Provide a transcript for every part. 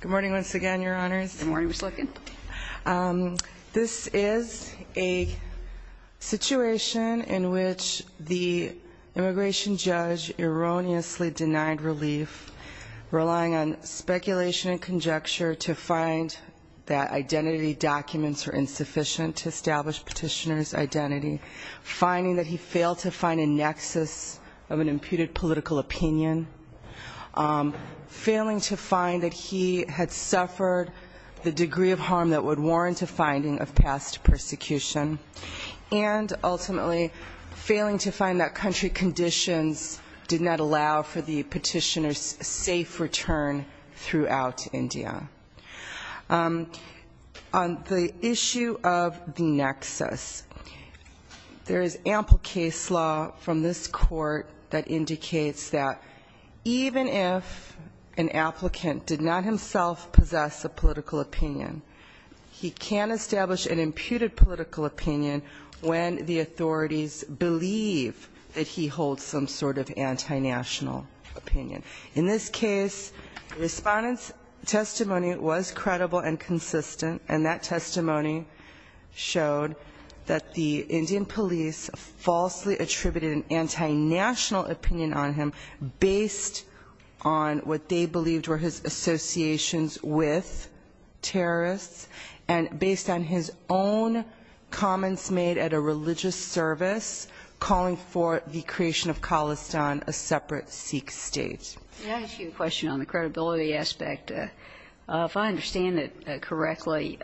Good morning once again, Your Honors. This is a situation in which the immigration judge erroneously denied relief, relying on speculation and conjecture to find that identity documents were insufficient to establish petitioner's identity, finding that he failed to find a nexus of an imputed political opinion, failing to find that he had suffered the degree of harm that would warrant a finding of past persecution, and ultimately failing to find that country conditions did not allow for the petitioner's safe return throughout India. On the issue of the nexus, there is ample case law from this Court that indicates that even if an applicant did not himself possess a political opinion, he can establish an imputed political opinion when the authorities believe that he holds some sort of anti-national opinion. In this case, the Respondent's testimony was credible and consistent, and that testimony showed that the Indian police falsely attributed an anti-national opinion on him based on what they believed were his associations with terrorists and based on his own comments made at a religious service calling for the creation of Khalistan, a separate Sikh state. Can I ask you a question on the credibility aspect? If I understand it correctly,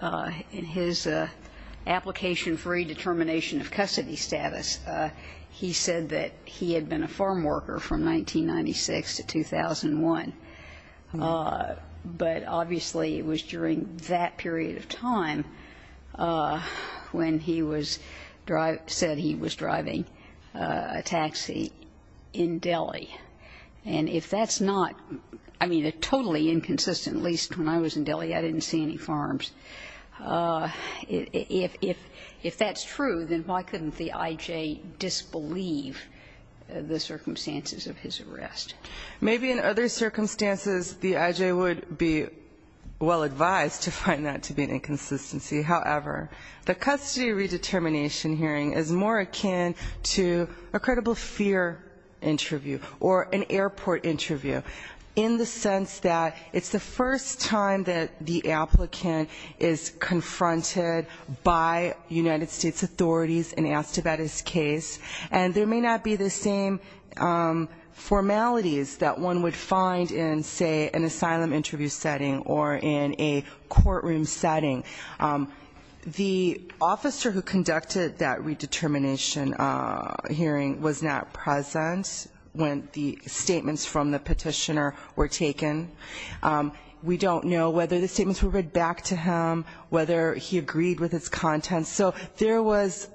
in his application for redetermination of custody status, he said that he had been a farm worker from 1996 to 2001. But obviously, it was during that period of time when he was driving, said he was driving a taxi in Delhi. And if that's the case, then why that's not, I mean, a totally inconsistent, at least when I was in Delhi, I didn't see any farms. If that's true, then why couldn't the I.J. disbelieve the circumstances of his arrest? Maybe in other circumstances, the I.J. would be well advised to find that to be an inconsistency. However, the custody redetermination hearing is more akin to a credible fear interview or an airport interview in the sense that it's the first time that the applicant is confronted by United States authorities and asked about his case. And there may not be the same formalities that one would find in, say, an asylum interview setting or in a courtroom setting. The officer who conducted that redetermination hearing was not present when the I.J. was presented, when the statements from the petitioner were taken. We don't know whether the statements were read back to him, whether he agreed with his content. So there was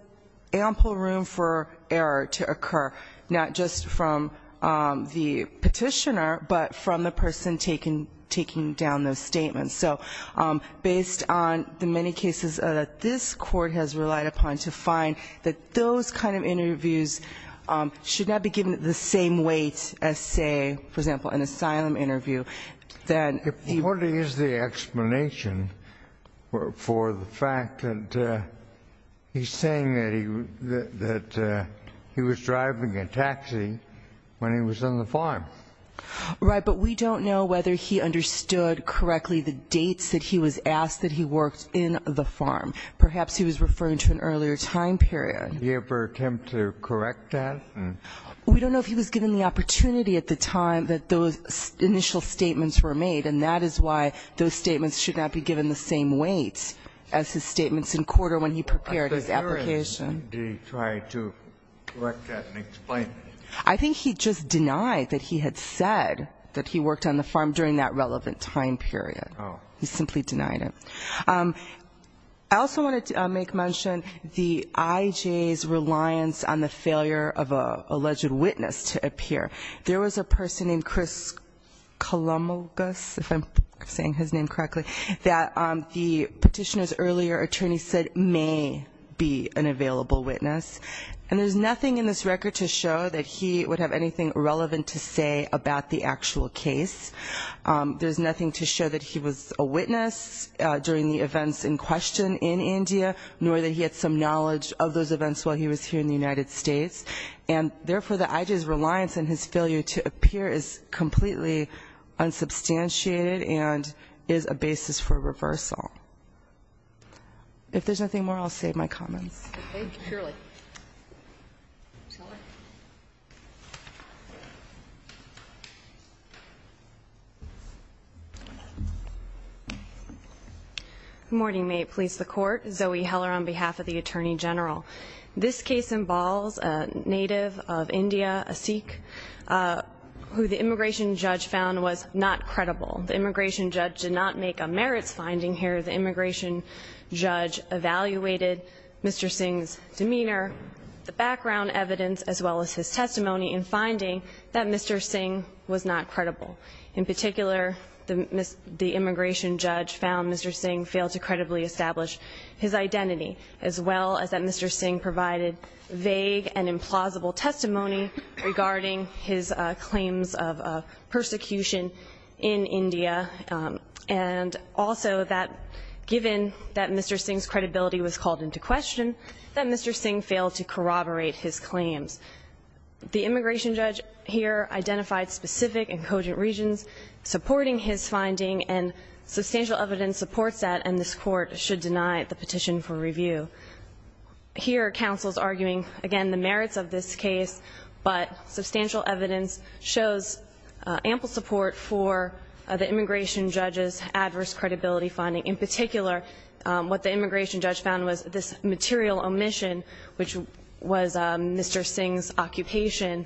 ample room for error to occur, not just from the petitioner, but from the person taking down those statements. So based on the many cases that this Court has relied upon to find that those kind of dates as, say, for example, an asylum interview, that he was not present when the statement was taken. The Court is the explanation for the fact that he's saying that he was driving a taxi when he was on the farm. Right. But we don't know whether he understood correctly the dates that he was asked that he worked in the farm. Perhaps he was referring to an earlier time period. Did he ever attempt to correct that? We don't know if he was given the opportunity at the time that those initial statements were made, and that is why those statements should not be given the same weight as his statements in court or when he prepared his application. Did he try to correct that and explain it? I think he just denied that he had said that he worked on the farm during that relevant time period. Oh. He simply denied it. I also want to make mention the IJA's reliance on the failure of an alleged witness to appear. There was a person named Chris Kalomogos, if I'm saying his name correctly, that the petitioner's earlier attorney said may be an available witness. And there's nothing in this record to show that he would have anything relevant to say about the actual case. There's nothing to show that he was a witness during the events in question in India, nor that he had some knowledge of those events while he was here in the United States. And, therefore, the IJA's reliance on his failure to appear is completely unsubstantiated and is a basis for reversal. If there's nothing more, I'll save my comments. Thank you. Surely. Ms. Heller. Good morning. May it please the Court. Zoe Heller on behalf of the Attorney General. This case involves a native of India, a Sikh, who the immigration judge found was not credible. The immigration judge did not make a merits finding here. The immigration judge evaluated Mr. Singh's demeanor, the background evidence, as well as his testimony in finding that Mr. Singh was not credible. In particular, the immigration judge found Mr. Singh failed to credibly establish his identity, as well as that Mr. Singh provided vague and implausible testimony regarding his claims of persecution in India. And also that, given that Mr. Singh's credibility was called into question, that Mr. Singh failed to corroborate his claims. The immigration judge here identified specific and cogent reasons supporting his finding, and substantial evidence supports that, and this Court should deny the petition for review. Here, counsel is arguing, again, the merits of this case, but substantial evidence shows ample support for the immigration judge's adverse credibility finding. In particular, what the immigration judge found was this material omission, which was Mr. Singh's occupation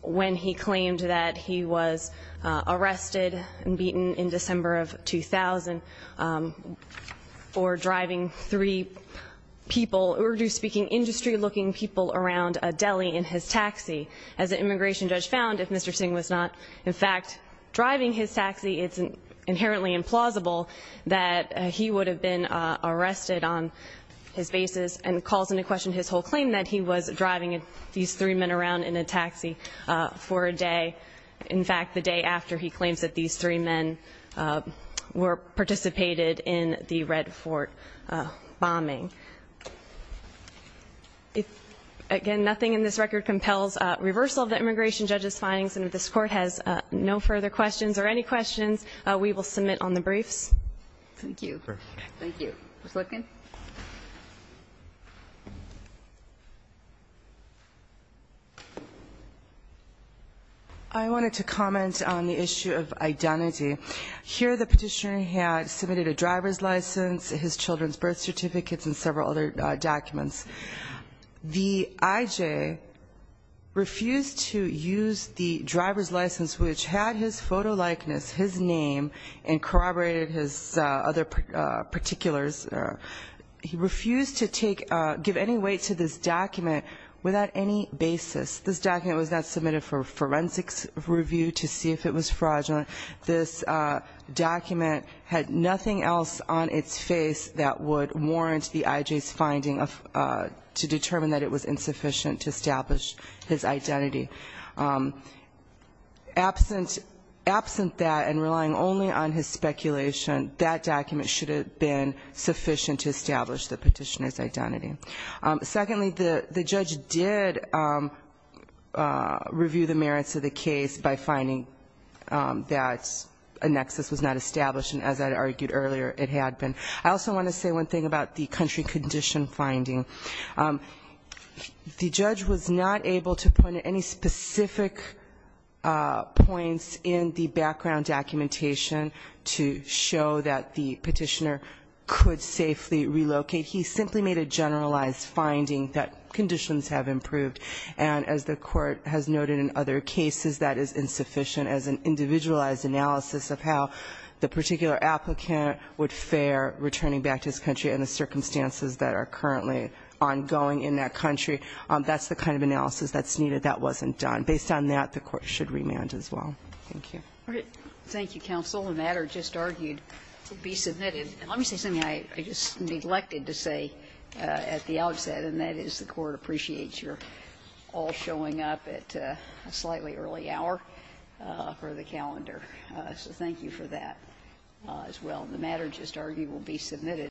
when he claimed that he was arrested and beaten in December of 2000 for driving three people, orderly speaking, industry-looking people around a deli in his taxi. As the immigration judge found, if Mr. Singh was not, in fact, driving his taxi, it's inherently implausible that he would have been arrested on his basis and calls into question his whole claim that he was driving these three men around in a taxi for a day. In fact, the day after he claims that these three men participated in the Red Fort bombing. Again, nothing in this record compels reversal of the immigration judge's findings, and if this Court has no further questions or any questions, we will submit on the briefs. Thank you. Thank you. Ms. Lifkin. I wanted to comment on the issue of identity. Here the petitioner had submitted a driver's license, his children's birth certificates, and several other documents. The IJ refused to use the driver's license, which had his photo likeness, his name, and corroborated his other particulars. He refused to give any weight to this document without any basis. This document was not submitted for forensics review to see if it was fraudulent. This document had nothing else on its face that would warrant the IJ's finding to determine that it was insufficient to establish his identity. Absent that and relying only on his speculation, that document should have been sufficient to establish the petitioner's identity. Secondly, the judge did review the merits of the case by finding that a nexus was not established, and as I argued earlier, it had been. I also want to say one thing about the country condition finding. The judge was not able to point to any specific points in the background documentation to show that the petitioner could safely relocate. He simply made a generalized finding that conditions have improved. And as the court has noted in other cases, that is insufficient as an individualized analysis of how the particular applicant would fare returning back to his country and the circumstances that are currently ongoing in that country. That's the kind of analysis that's needed. That wasn't done. Based on that, the court should remand as well. Thank you. Thank you, counsel. The matter just argued to be submitted. Let me say something I just neglected to say at the outset, and that is the court appreciates your all showing up at a slightly early hour for the calendar. So thank you for that as well. The matter just argued will be submitted.